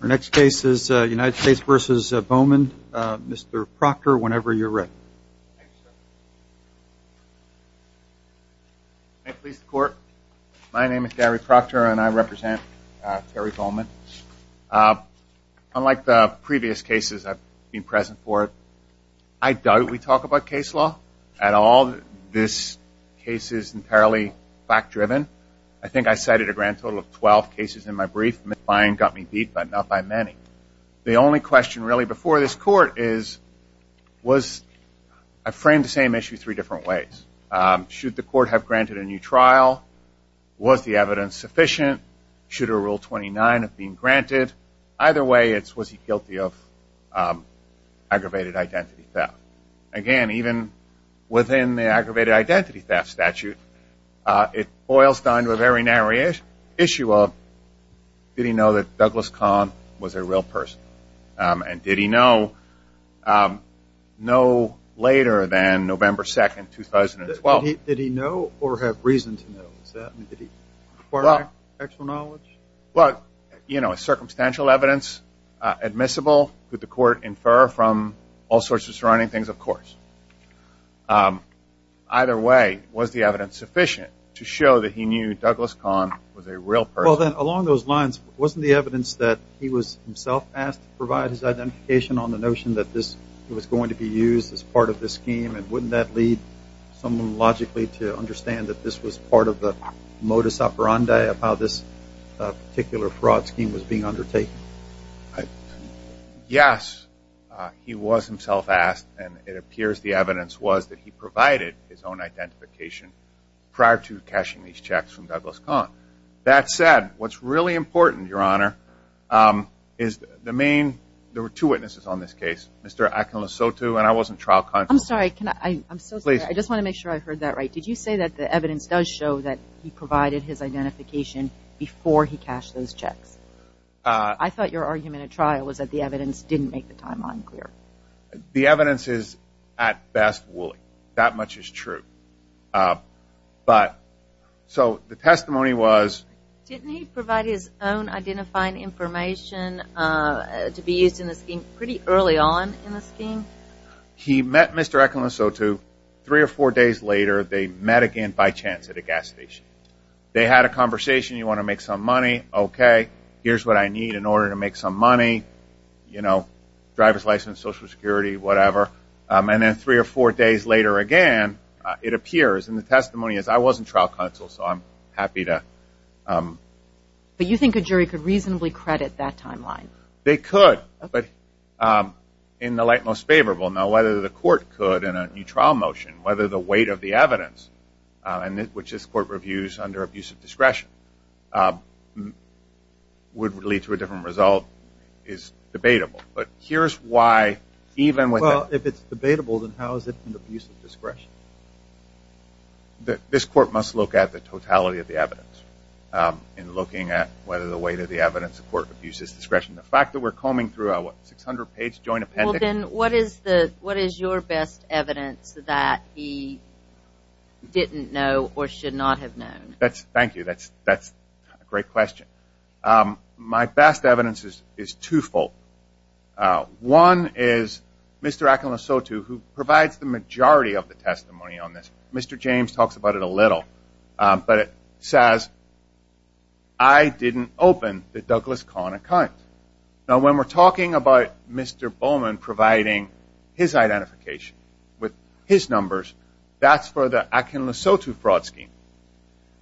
Can I please the court? My name is Gary Proctor and I represent Terry Bowman. Unlike the previous cases I've been present for, I doubt we talk about case law at all. This case is entirely fact-driven. I think I cited a grand total of 12 cases in my brief. My mind got me beat but not by many. The only question really before this court is, was, I framed the same issue three different ways. Should the court have granted a new trial? Was the evidence sufficient? Should a rule 29 have been granted? Either way, was he guilty of aggravated identity theft? Again, even within the aggravated identity theft statute, it boils down to a very narrow issue of, did he know that Douglas Kahn was a real person? And did he know no later than that? Circumstantial evidence, admissible, could the court infer from all sorts of surrounding things, of course. Either way, was the evidence sufficient to show that he knew Douglas Kahn was a real person? Along those lines, wasn't the evidence that he was himself asked to provide his identification on the notion that this was going to be used as part of this scheme and wouldn't that lead someone logically to understand that this was part of the modus operandi of how this particular fraud scheme was being undertaken? Yes, he was himself asked and it appears the evidence was that he provided his own identification prior to cashing these checks from Douglas Kahn. That said, what's really important, Your Honor, is the main, there were two witnesses on this case, Mr. Akhil Asotu and I wasn't trial conscious. I'm sorry, can I, I'm so sorry, I just want to make sure I heard that right. Did you say that the evidence does show that he provided his identification before he cashed those checks? I thought your argument at trial was that the evidence didn't make the timeline clear. The evidence is at best wooly. That much is true. But, so the testimony was. Didn't he provide his own identifying information to be used in this scheme pretty early on in the scheme? He met Mr. Akhil Asotu three or four days later. They met again by chance at a gas station. They had a conversation. You want to make some money? Okay. Here's what I need in order to make some money. You know, driver's license, social security, whatever. And then three or four days later again, it appears in the testimony is I wasn't trial conscious. So I'm happy to. But you think a jury could reasonably credit that timeline? They could, but in the light most favorable. Now, whether the court could in a new trial motion, whether the weight of the evidence, which this court reviews under abuse of discretion, would lead to a different result is debatable. But here's why, even with that. Well, if it's debatable, then how is it an abuse of discretion? This court must look at the totality of the fact that we're combing through a 600-page joint appendix. Well, then what is your best evidence that he didn't know or should not have known? Thank you. That's a great question. My best evidence is twofold. One is Mr. Akhil Asotu, who provides the majority of the testimony on this. Mr. James talks about it a little. But it says, I didn't open the Douglas Conn account. Now, when we're talking about Mr. Bowman providing his identification with his numbers, that's for the Akhil Asotu fraud scheme.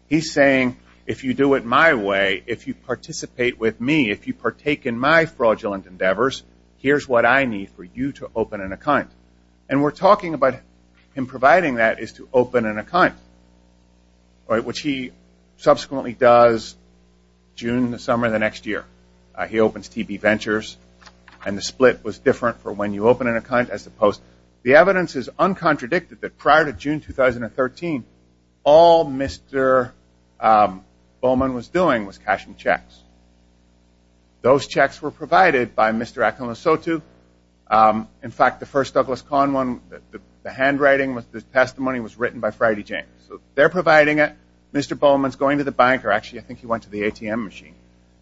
He's saying, if you do it my way, if you participate with me, if you partake in my fraudulent endeavors, here's what I do to open an account. And we're talking about him providing that is to open an account, which he subsequently does June, the summer of the next year. He opens T.B. Ventures, and the split was different for when you open an account as opposed. The evidence is uncontradicted that prior to June 2013, all Mr. Bowman was doing was cashing checks. Those checks were cashed. In fact, the first Douglas Conn one, the handwriting, the testimony was written by Friday James. They're providing it. Mr. Bowman's going to the banker. Actually, I think he went to the ATM machine.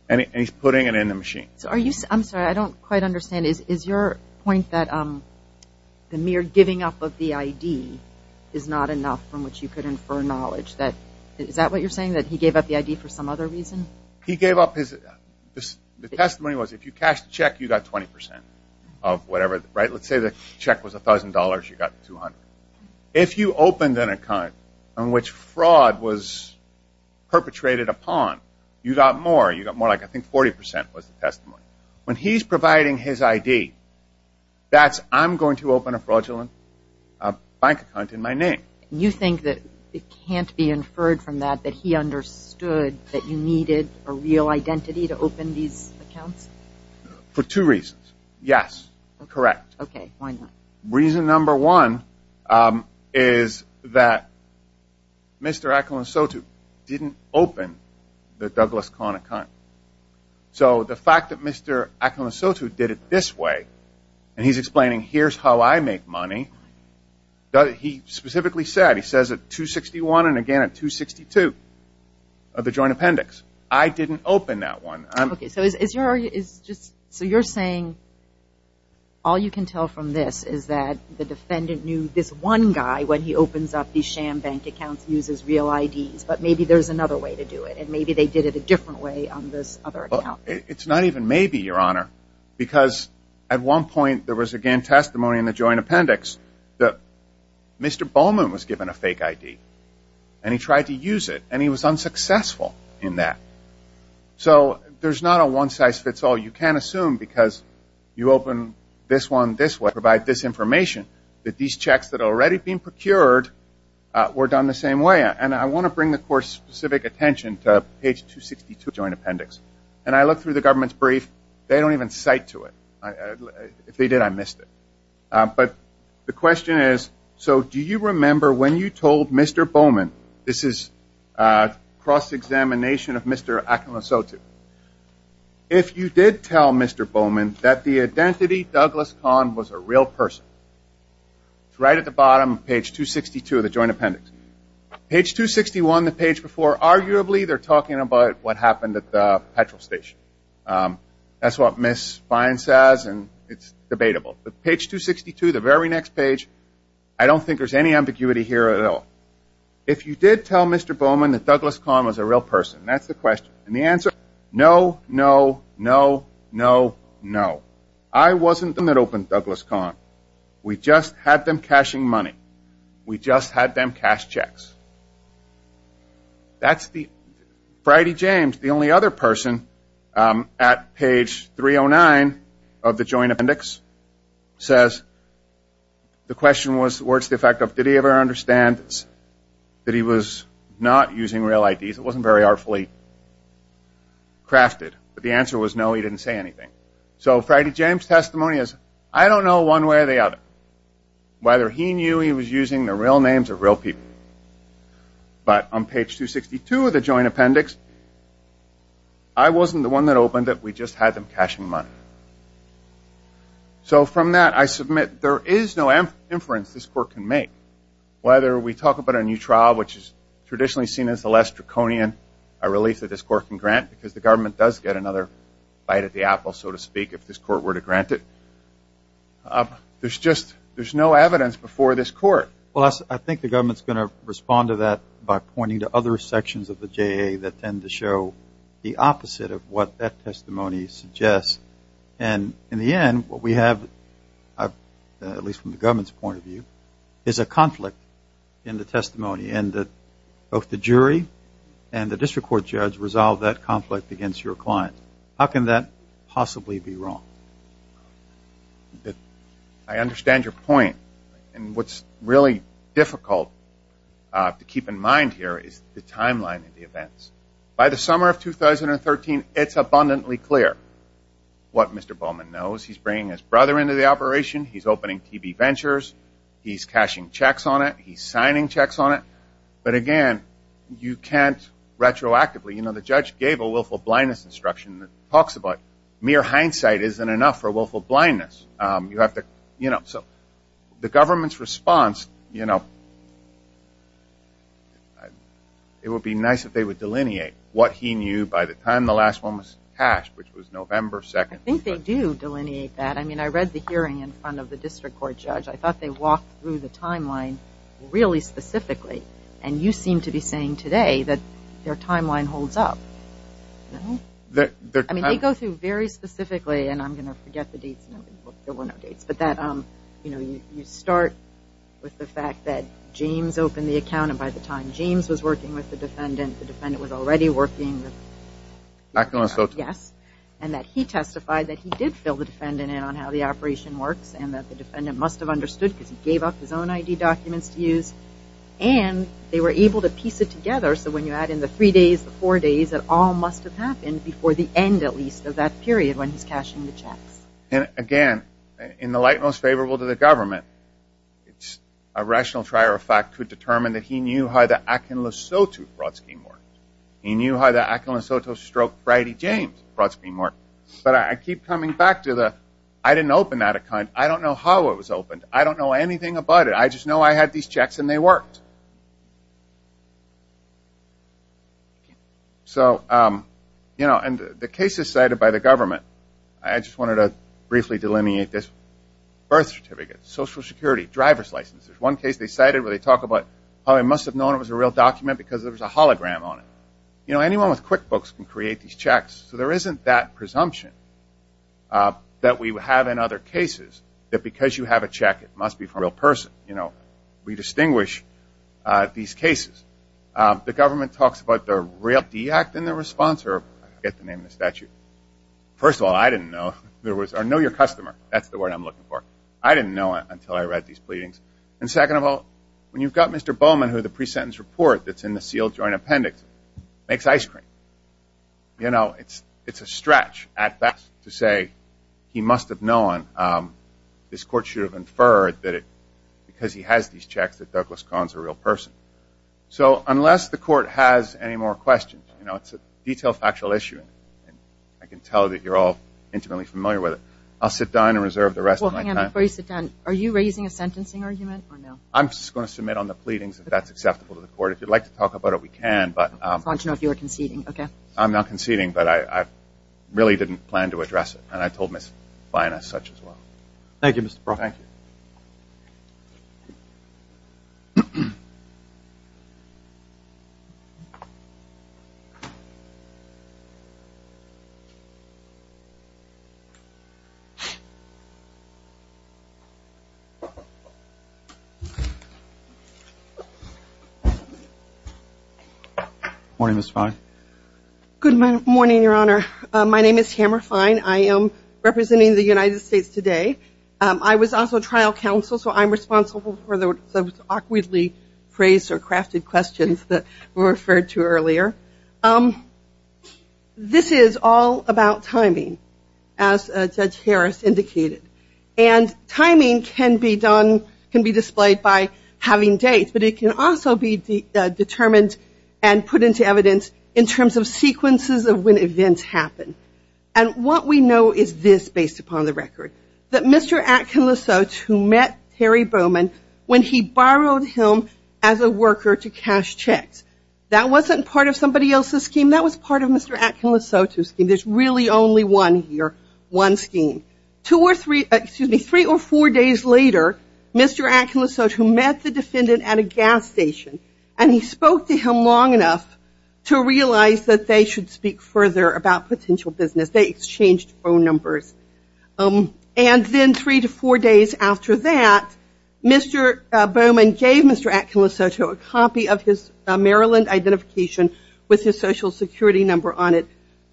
And he's putting it in the machine. I'm sorry, I don't quite understand. Is your point that the mere giving up of the ID is not enough from which you could infer knowledge? Is that what you're saying, that he gave up the ID for some other reason? He gave up his, the testimony was if you cashed a check, you got 20% of whatever, right? Let's say the check was $1,000, you got 200. If you opened an account on which fraud was perpetrated upon, you got more. You got more like I think 40% was the testimony. When he's providing his ID, that's I'm going to open a fraudulent bank account in my name. You think that it can't be inferred from that, that he understood that you needed a real identity to open these accounts? For two reasons. Yes, correct. Okay, why not? Reason number one is that Mr. Akhil and Sotu didn't open the Douglas Conn account. So the fact that Mr. Akhil and Sotu did it this way, and he's explaining here's how I make money, that he specifically said, he says at 261 and again at 262 of the joint appendix. I didn't open that one. Okay, so you're saying all you can tell from this is that the defendant knew this one guy when he opens up these sham bank accounts uses real IDs, but maybe there's another way to do it, and maybe they did it a different way on this other account. It's not even maybe, Your Honor, because at one point there was again testimony in the joint appendix that Mr. Bowman was given a fake ID, and he tried to use it, and he was unsuccessful in that. So there's not a one size fits all. You can't assume because you open this one this way, provide this information, that these checks that are already being procured were done the same way. And I want to bring the Court's specific attention to page 262 of the joint appendix. And I looked through the government's brief. They don't even cite to it. If they did, I missed it. But the question is, so do you remember when you told Mr. Bowman, this is cross-examination of Mr. Akhil Sotu, if you did tell Mr. Bowman that the identity Douglas Kahn was a real person, it's right at the bottom of page 262 of the joint appendix. Page 261, the page before, arguably they're talking about what happened at the petrol station. That's what Ms. Fine says, and it's debatable. Page 262, the very next page, I don't think there's any ambiguity here at all. If you did tell Mr. Bowman that Douglas Kahn was a real person, that's the question. And the answer, no, no, no, no, no. I wasn't the one that opened Douglas Kahn. We just had them cashing money. We just had them cash checks. That's the, Friday James, the only other person, at page 309 of the joint appendix, says, the question was, what's the effect of, did he ever understand that he was not using real IDs? It wasn't very artfully crafted. But the answer was, no, he didn't say anything. So Friday James' testimony is, I don't know one way or the other whether he knew he was using the real names of real people. But on page 262 of the joint appendix, I wasn't the one that opened it. We just had them cashing money. So from that, I submit, there is no inference this court can make. Whether we talk about a new trial, which is traditionally seen as the less draconian relief that this court can grant, because the government does get another bite at the apple, so to speak, if this court were to grant it. There's just, there's no evidence before this court. Well, I think the government's going to respond to that by pointing to other sections of the JA that tend to show the opposite of what that testimony suggests. And in the end, what we have, at least from the government's point of view, is a conflict in the testimony. And both the jury and the district court judge resolve that conflict against your client. How can that possibly be wrong? I understand your point. And what's really difficult to keep in mind here is the timeline of the events. By the summer of 2013, it's abundantly clear what Mr. Bowman knows. He's bringing his brother into the operation. He's opening TB Ventures. He's cashing checks on it. He's signing checks on it. But again, you can't retroactively, you know, the judge gave a willful blindness instruction that talks about mere hindsight isn't enough for willful blindness. You have to, you know, so the government's response, you know, it would be nice if they would delineate what he knew by the time the last one was cashed, which was November 2nd. I think they do delineate that. I mean, I read the hearing in front of the district court judge. I thought they walked through the timeline really specifically. And you seem to be saying today that their timeline holds up. I mean, they go through very specifically. And I'm going to forget the dates. There were no dates. But that, you know, you start with the fact that James opened the account. And by the time James was working with the defendant, the defendant was already working. Yes. And that he testified that he did fill the defendant in on how the operation works and that the defendant must have understood because he gave up his own ID documents to use. And they were able to piece it together. So when you add in the three days, the four days, it all must have happened before the end, at least, of that period when he's cashing the checks. And again, in the light most favorable to the government, it's a rational trier of fact could determine that he knew how the Akin Lasoto fraud scheme worked. He knew how the Akin Lasoto stroke Bridie James fraud scheme worked. But I keep coming back to the I didn't open that account. I don't know how it was opened. I don't know anything about it. I just know I had these checks and they worked. So, you know, and the case is cited by the government. I just wanted to briefly delineate this. Birth certificate, Social Security, driver's license. There's one case they cited where they talk about probably must have known it was a real document because there was a hologram on it. You know, anyone with QuickBooks can create these checks. So there isn't that presumption that we have in other cases that because you have a check, it must be from a real person. You know, we distinguish these cases. The government talks about the Realty Act and the response or I forget the name of the statute. First of all, I didn't know there was or know your customer. That's the word I'm looking for. I didn't know it until I read these pleadings. And second of all, when you've got Mr. Bowman, who the pre-sentence report that's in the sealed joint appendix makes ice cream. You know, it's a stretch at best to say he must have known. This court should have inferred that it because he has these checks that Douglas Kahn's a real person. So unless the court has any more questions, you know, it's a detailed factual issue. I can tell that you're all intimately familiar with it. I'll sit down and reserve the rest of my time. Before you sit down, are you raising a sentencing argument or no? I'm just going to submit on the pleadings if that's acceptable to the court. If you'd like to talk about it, we can. But I want to know if you're conceding. Okay. I'm not conceding, but I really didn't plan to address it. And I told Ms. Fine as such as well. Thank you, Mr. Brock. Good morning, Your Honor. My name is Tamara Fine. I am representing the United States today. I was also trial counsel. So I'm responsible for the awkwardly phrased or crafted questions that were referred to earlier. This is all about timing, as Judge Harris indicated. And timing can be done, can be displayed by having dates. But it can also be determined and put into evidence in terms of sequences of when events happen. And what we know is this based upon the record. That Mr. Atkin Lesotho met Terry Bowman when he borrowed him as a worker to cash checks. That wasn't part of somebody else's scheme. That was part of Mr. Atkin Lesotho's scheme. There's really only one scheme. Three or four days later, Mr. Atkin Lesotho met the defendant at a gas station. And he spoke to him long enough to realize that they should speak further about potential business. They exchanged phone numbers. And then three to four days after that, Mr. Bowman gave Mr. Atkin Lesotho a copy of his Maryland identification with his social security number on it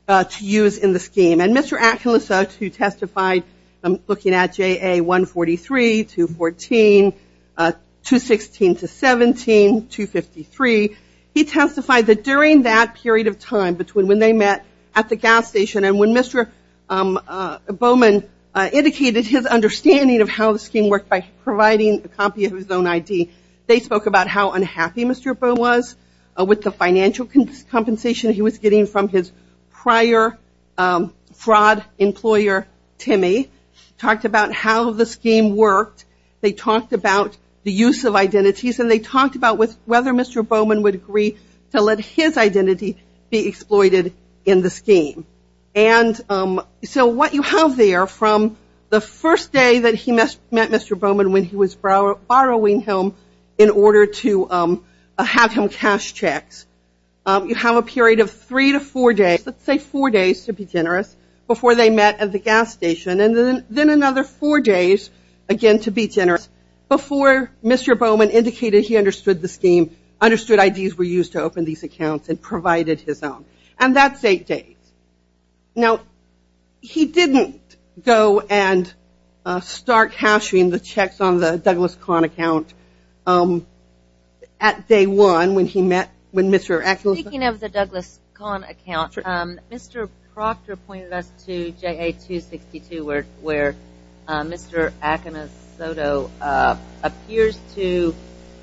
to use in the scheme. And Mr. Atkin Lesotho testified looking at JA 143, 214, 216 to 17, 253. He testified that during that period of time between when they met at the gas station and when Mr. Bowman indicated his understanding of how the scheme worked by providing a copy of his own ID, they spoke about how unhappy Mr. Bowman was with the financial compensation he was getting from his prior fraud employer, Timmy, talked about how the scheme worked. They talked about the use of identities. And they talked about whether Mr. Bowman would agree to let his identity be exploited in the scheme. And so what you have there from the first day that he met Mr. Bowman when he was borrowing him in order to have him cash checks, you have a period of three to four days, let's say four days to be generous, before they met at the gas station. And then another four days, again, to be generous, before Mr. Bowman indicated he understood the scheme, understood IDs were used to open these accounts, and provided his own. And that's eight days. Now, he didn't go and start cashing the checks on the Douglas Conn account at day one when he met with Mr. Akinosoto. Speaking of the Douglas Conn account, Mr. Proctor pointed us to JA262 where Mr. Akinosoto appears to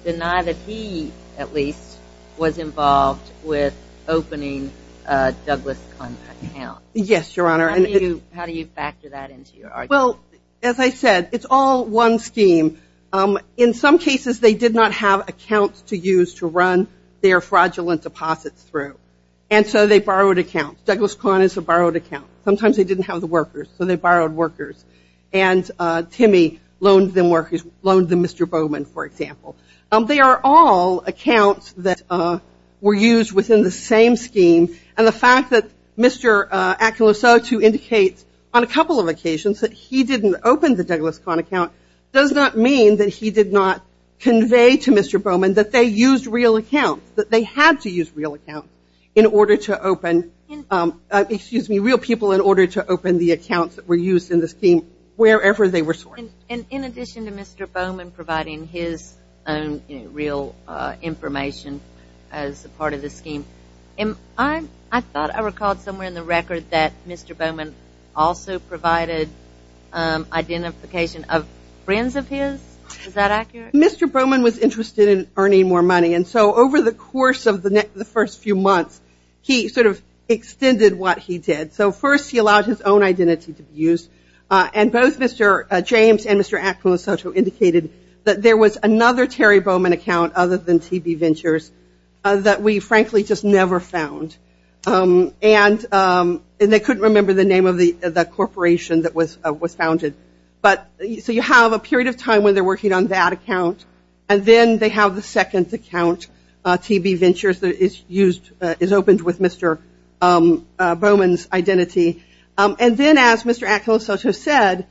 deny that he, at least, was involved with opening a Douglas Conn account. Yes, Your Honor. And how do you factor that into your argument? Well, as I said, it's all one scheme. In some cases, they did not have accounts to use to run their fraudulent deposits through. And so they borrowed accounts. Douglas Conn is a borrowed account. Sometimes they didn't have the workers, so they borrowed workers. And Timmy loaned them workers, loaned them Mr. Bowman, for example. They are all accounts that were used within the same scheme. And the fact that Mr. Akinosoto indicates on a couple of occasions that he didn't open the Douglas Conn account does not mean that he did not convey to Mr. Bowman that they used real accounts, that they had to use real accounts in order to open, excuse me, real people in order to open the accounts that were used in the scheme wherever they were sourced. And in addition to Mr. Bowman providing his own real information as a part of the scheme, I thought I recalled somewhere in the record that Mr. Bowman also provided identification of friends of his. Is that accurate? Mr. Bowman was interested in earning more money. And so over the course of the first few months, he sort of extended what he did. First, he allowed his own identity to be used. And both Mr. James and Mr. Akinosoto indicated that there was another Terry Bowman account other than TB Ventures that we frankly just never found. And they couldn't remember the name of the corporation that was founded. So you have a period of time when they're working on that account. And then they have the second account, TB Ventures, that is used, is opened with Mr. Akinosoto's identity. And then as Mr. Akinosoto said,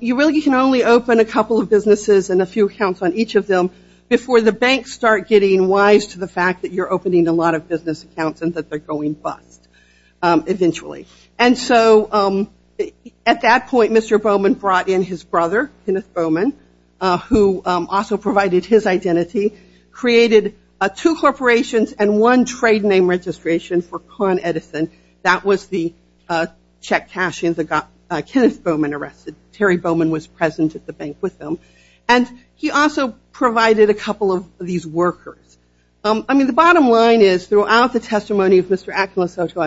you really can only open a couple of businesses and a few accounts on each of them before the banks start getting wise to the fact that you're opening a lot of business accounts and that they're going bust eventually. And so at that point, Mr. Bowman brought in his brother, Kenneth Bowman, who also provided his identity, created two corporations and one trade name registration for Con Edison. That was the check cashing that got Kenneth Bowman arrested. Terry Bowman was present at the bank with them. And he also provided a couple of these workers. I mean, the bottom line is throughout the testimony of Mr. Akinosoto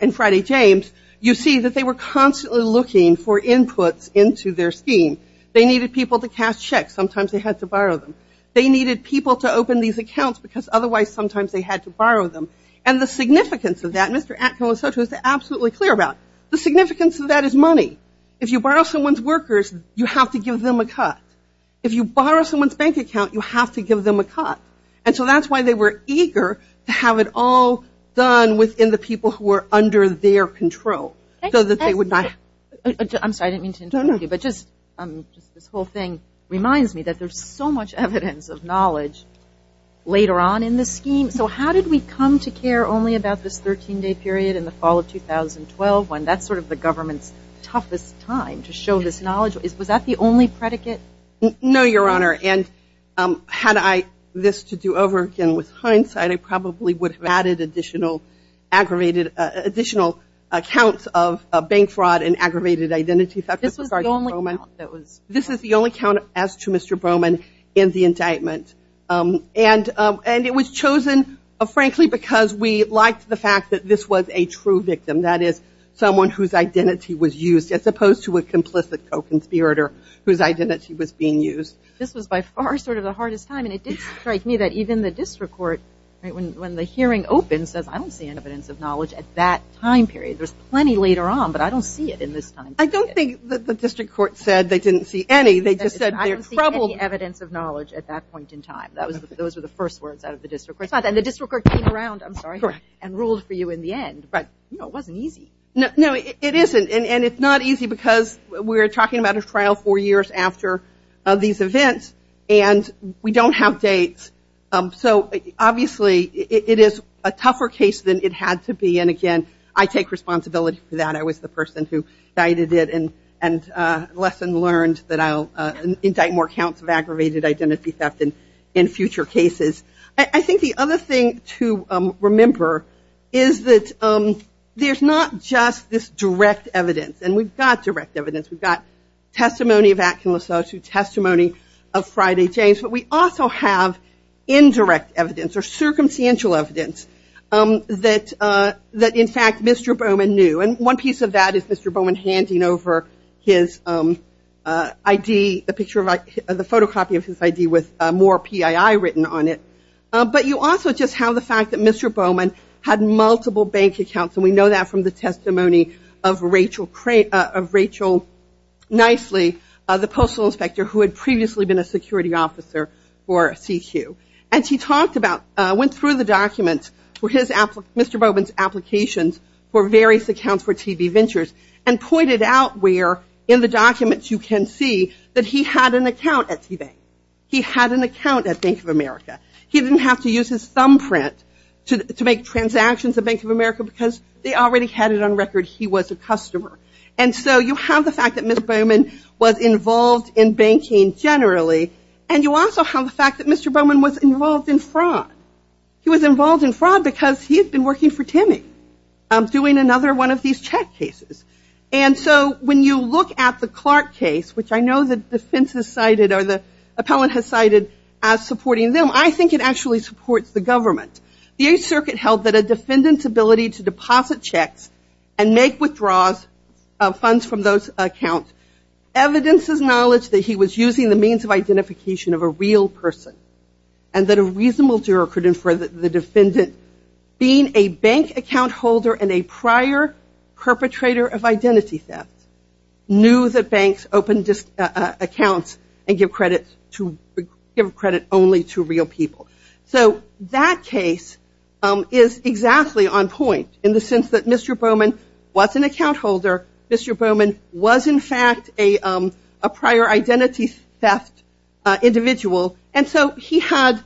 and Friday James, you see that they were constantly looking for inputs into their scheme. They needed people to cast checks. Sometimes they had to borrow them. They needed people to open these accounts because otherwise sometimes they had to borrow them. And the significance of that, Mr. Akinosoto is absolutely clear about. The significance of that is money. If you borrow someone's workers, you have to give them a cut. If you borrow someone's bank account, you have to give them a cut. And so that's why they were eager to have it all done within the people who were under their control so that they would not. I'm sorry, I didn't mean to interrupt you, but just this whole thing reminds me that there's so much evidence of knowledge later on in the scheme. So how did we come to care only about this 13-day period in the fall of 2012 when that's sort of the government's toughest time to show this knowledge? Was that the only predicate? No, Your Honor. And had I this to do over again with hindsight, I probably would have added additional aggravated additional accounts of bank fraud and aggravated identity theft. This was the only account that was. This is the only account as to Mr. Bowman in the indictment. And it was chosen, frankly, because we liked the fact that this was a true victim. That is, someone whose identity was used as opposed to a complicit co-conspirator whose identity was being used. This was by far sort of the hardest time. And it did strike me that even the district court, when the hearing opens, says, I don't see any evidence of knowledge at that time period. There's plenty later on, but I don't see it in this time period. I don't think the district court said they didn't see any. They just said they're troubled. Evidence of knowledge at that point in time. Those were the first words out of the district court. And the district court came around, I'm sorry, and ruled for you in the end. But it wasn't easy. No, it isn't. And it's not easy because we're talking about a trial four years after these events. And we don't have dates. So obviously, it is a tougher case than it had to be. And again, I take responsibility for that. I was the person who guided it and lesson learned that I'll indict more counts of aggravated identity theft in future cases. I think the other thing to remember is that there's not just this direct evidence. And we've got direct evidence. We've got testimony of Atkin Lasotho, testimony of Friday James. But we also have indirect evidence or circumstantial evidence that, in fact, Mr. Bowman knew. And one piece of that is Mr. Bowman handing over his ID, the photocopy of his ID with more PII written on it. But you also just have the fact that Mr. Bowman had multiple bank accounts. And we know that from the testimony of Rachel Nicely, the postal inspector who had previously been a security officer for CQ. And she talked about, went through the documents for his, Mr. Bowman's applications for various accounts for TV Ventures and pointed out where in the documents you can see that he had an account at TV. He had an account at Bank of America. He didn't have to use his thumbprint to make transactions at Bank of America because they already had it on record he was a customer. And so you have the fact that Mr. Bowman was involved in banking generally. And you also have the fact that Mr. Bowman was involved in fraud. He was involved in fraud because he had been working for Timmy doing another one of these check cases. And so when you look at the Clark case, which I know the defense has cited or the appellant has cited as supporting them, I think it actually supports the government. The 8th Circuit held that a defendant's ability to deposit checks and make withdraws of funds from those accounts evidences knowledge that he was using the means of identification of a real person and that a reasonable juror could infer that the defendant, being a bank account holder and a prior perpetrator of identity theft, knew that banks opened accounts and give credit only to real people. So that case is exactly on point in the sense that Mr. Bowman was an account holder. Mr. Bowman was in fact a prior identity theft individual. And so he had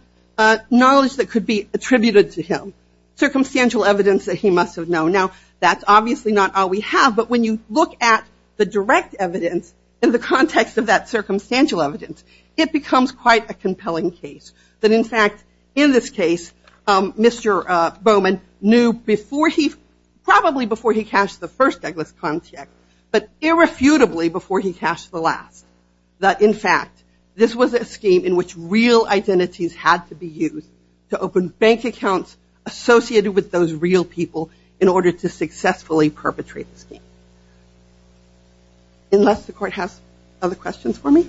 knowledge that could be attributed to him. Circumstantial evidence that he must have known. Now, that's obviously not all we have. But when you look at the direct evidence in the context of that circumstantial evidence, it becomes quite a compelling case. That in fact, in this case, Mr. Bowman knew before he, probably before he cashed the first Douglas contract, but irrefutably before he cashed the last. That in fact, this was a scheme in which real identities had to be used to open bank accounts associated with those real people in order to successfully perpetrate the scheme. Unless the court has other questions for me?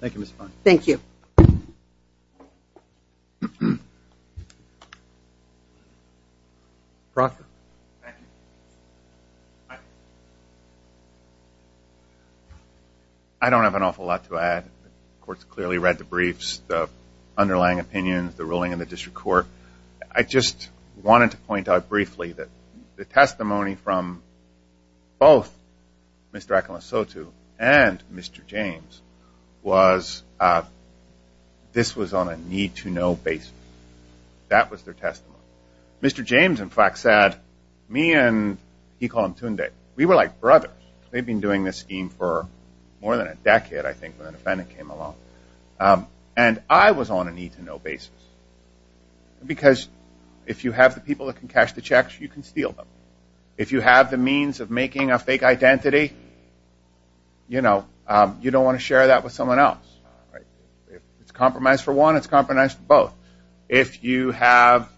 Thank you, Ms. Fung. Thank you. I don't have an awful lot to add. The court's clearly read the briefs, the underlying opinions, the ruling in the district court. I just wanted to point out briefly that the testimony from both Mr. Akamasoto and Mr. James was this was on a need-to-know basis. That was their testimony. Mr. James, in fact, said, me and he called him Tunde, we were like brothers. They'd been doing this scheme for more than a decade, I think, when the defendant came along. And I was on a need-to-know basis. Because if you have the people that can cash the checks, you can steal them. If you have the means of making a fake identity, you know, you don't want to share that with someone else. It's compromise for one, it's compromise for both. If you have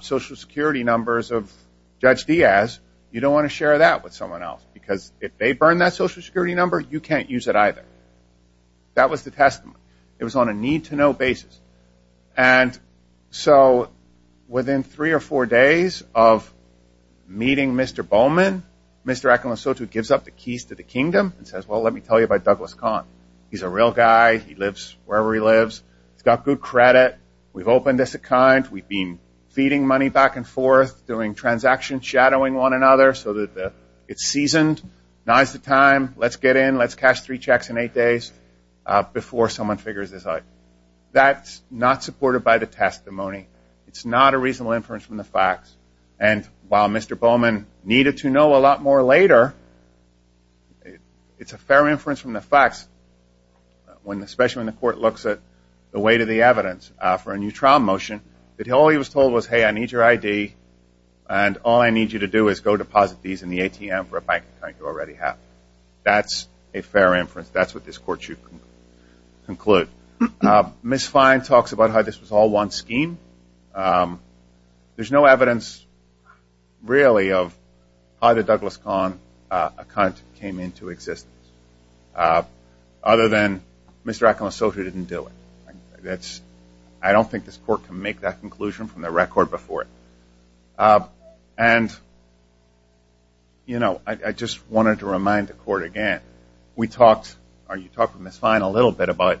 social security numbers of Judge Diaz, you don't want to share that with someone else, because if they burn that social security number, you can't use it either. That was the testimony. It was on a need-to-know basis. And so within three or four days of meeting Mr. Bowman, Mr. Akamasoto gives up the keys to the kingdom and says, well, let me tell you about Douglas Kahn. He's a real guy. He lives wherever he lives. He's got good credit. We've opened this account. We've been feeding money back and forth, doing transaction shadowing one another so that it's seasoned. Now's the time. Let's get in. Let's cash three checks in eight days before someone figures this out. That's not supported by the testimony. It's not a reasonable inference from the facts. And while Mr. Bowman needed to know a lot more later, it's a fair inference from the facts, especially when the court looks at the weight of the evidence for a new trial motion that all he was told was, hey, I need your ID, and all I need you to do is go deposit these in the ATM for a bank account you already have. That's a fair inference. That's what this court should conclude. Ms. Fine talks about how this was all one scheme. There's no evidence, really, of how the Douglas Kahn account came into existence, other than Mr. Ackerman-Soto didn't do it. I don't think this court can make that conclusion from the record before it. And I just wanted to remind the court again, we talked, or you talked with Ms. Fine a little bit about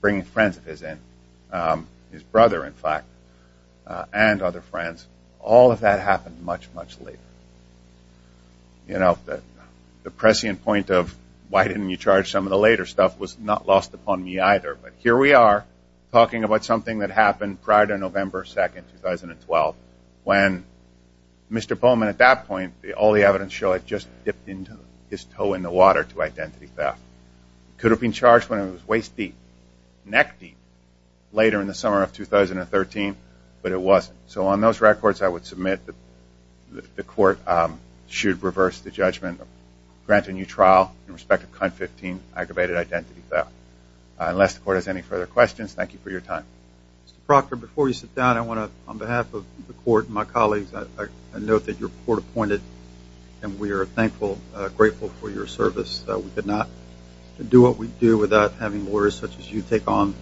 bringing friends of his in, his brother, in fact, and other friends. All of that happened much, much later. You know, the prescient point of why didn't you charge some of the later stuff was not lost upon me, either. But here we are talking about something that happened prior to November 2, 2012, when Mr. Bowman, at that point, all the evidence showed, had just dipped his toe in the water to identity theft. It could have been charged when it was waist deep, neck deep, later in the summer of 2013, but it wasn't. So on those records, I would submit that the court should reverse the judgment, grant a new trial in respect of CUNT 15, aggravated identity theft. Unless the court has any further questions, thank you for your time. Mr. Proctor, before you sit down, I want to, on behalf of the court and my colleagues, note that you're court-appointed, and we are thankful, grateful for your service. We could not do what we do without having lawyers such as you take on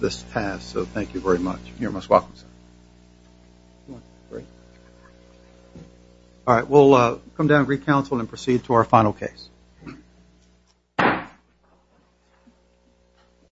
this task. So thank you very much. You're most welcome, sir. All right, we'll come down and re-counsel and proceed to our final case.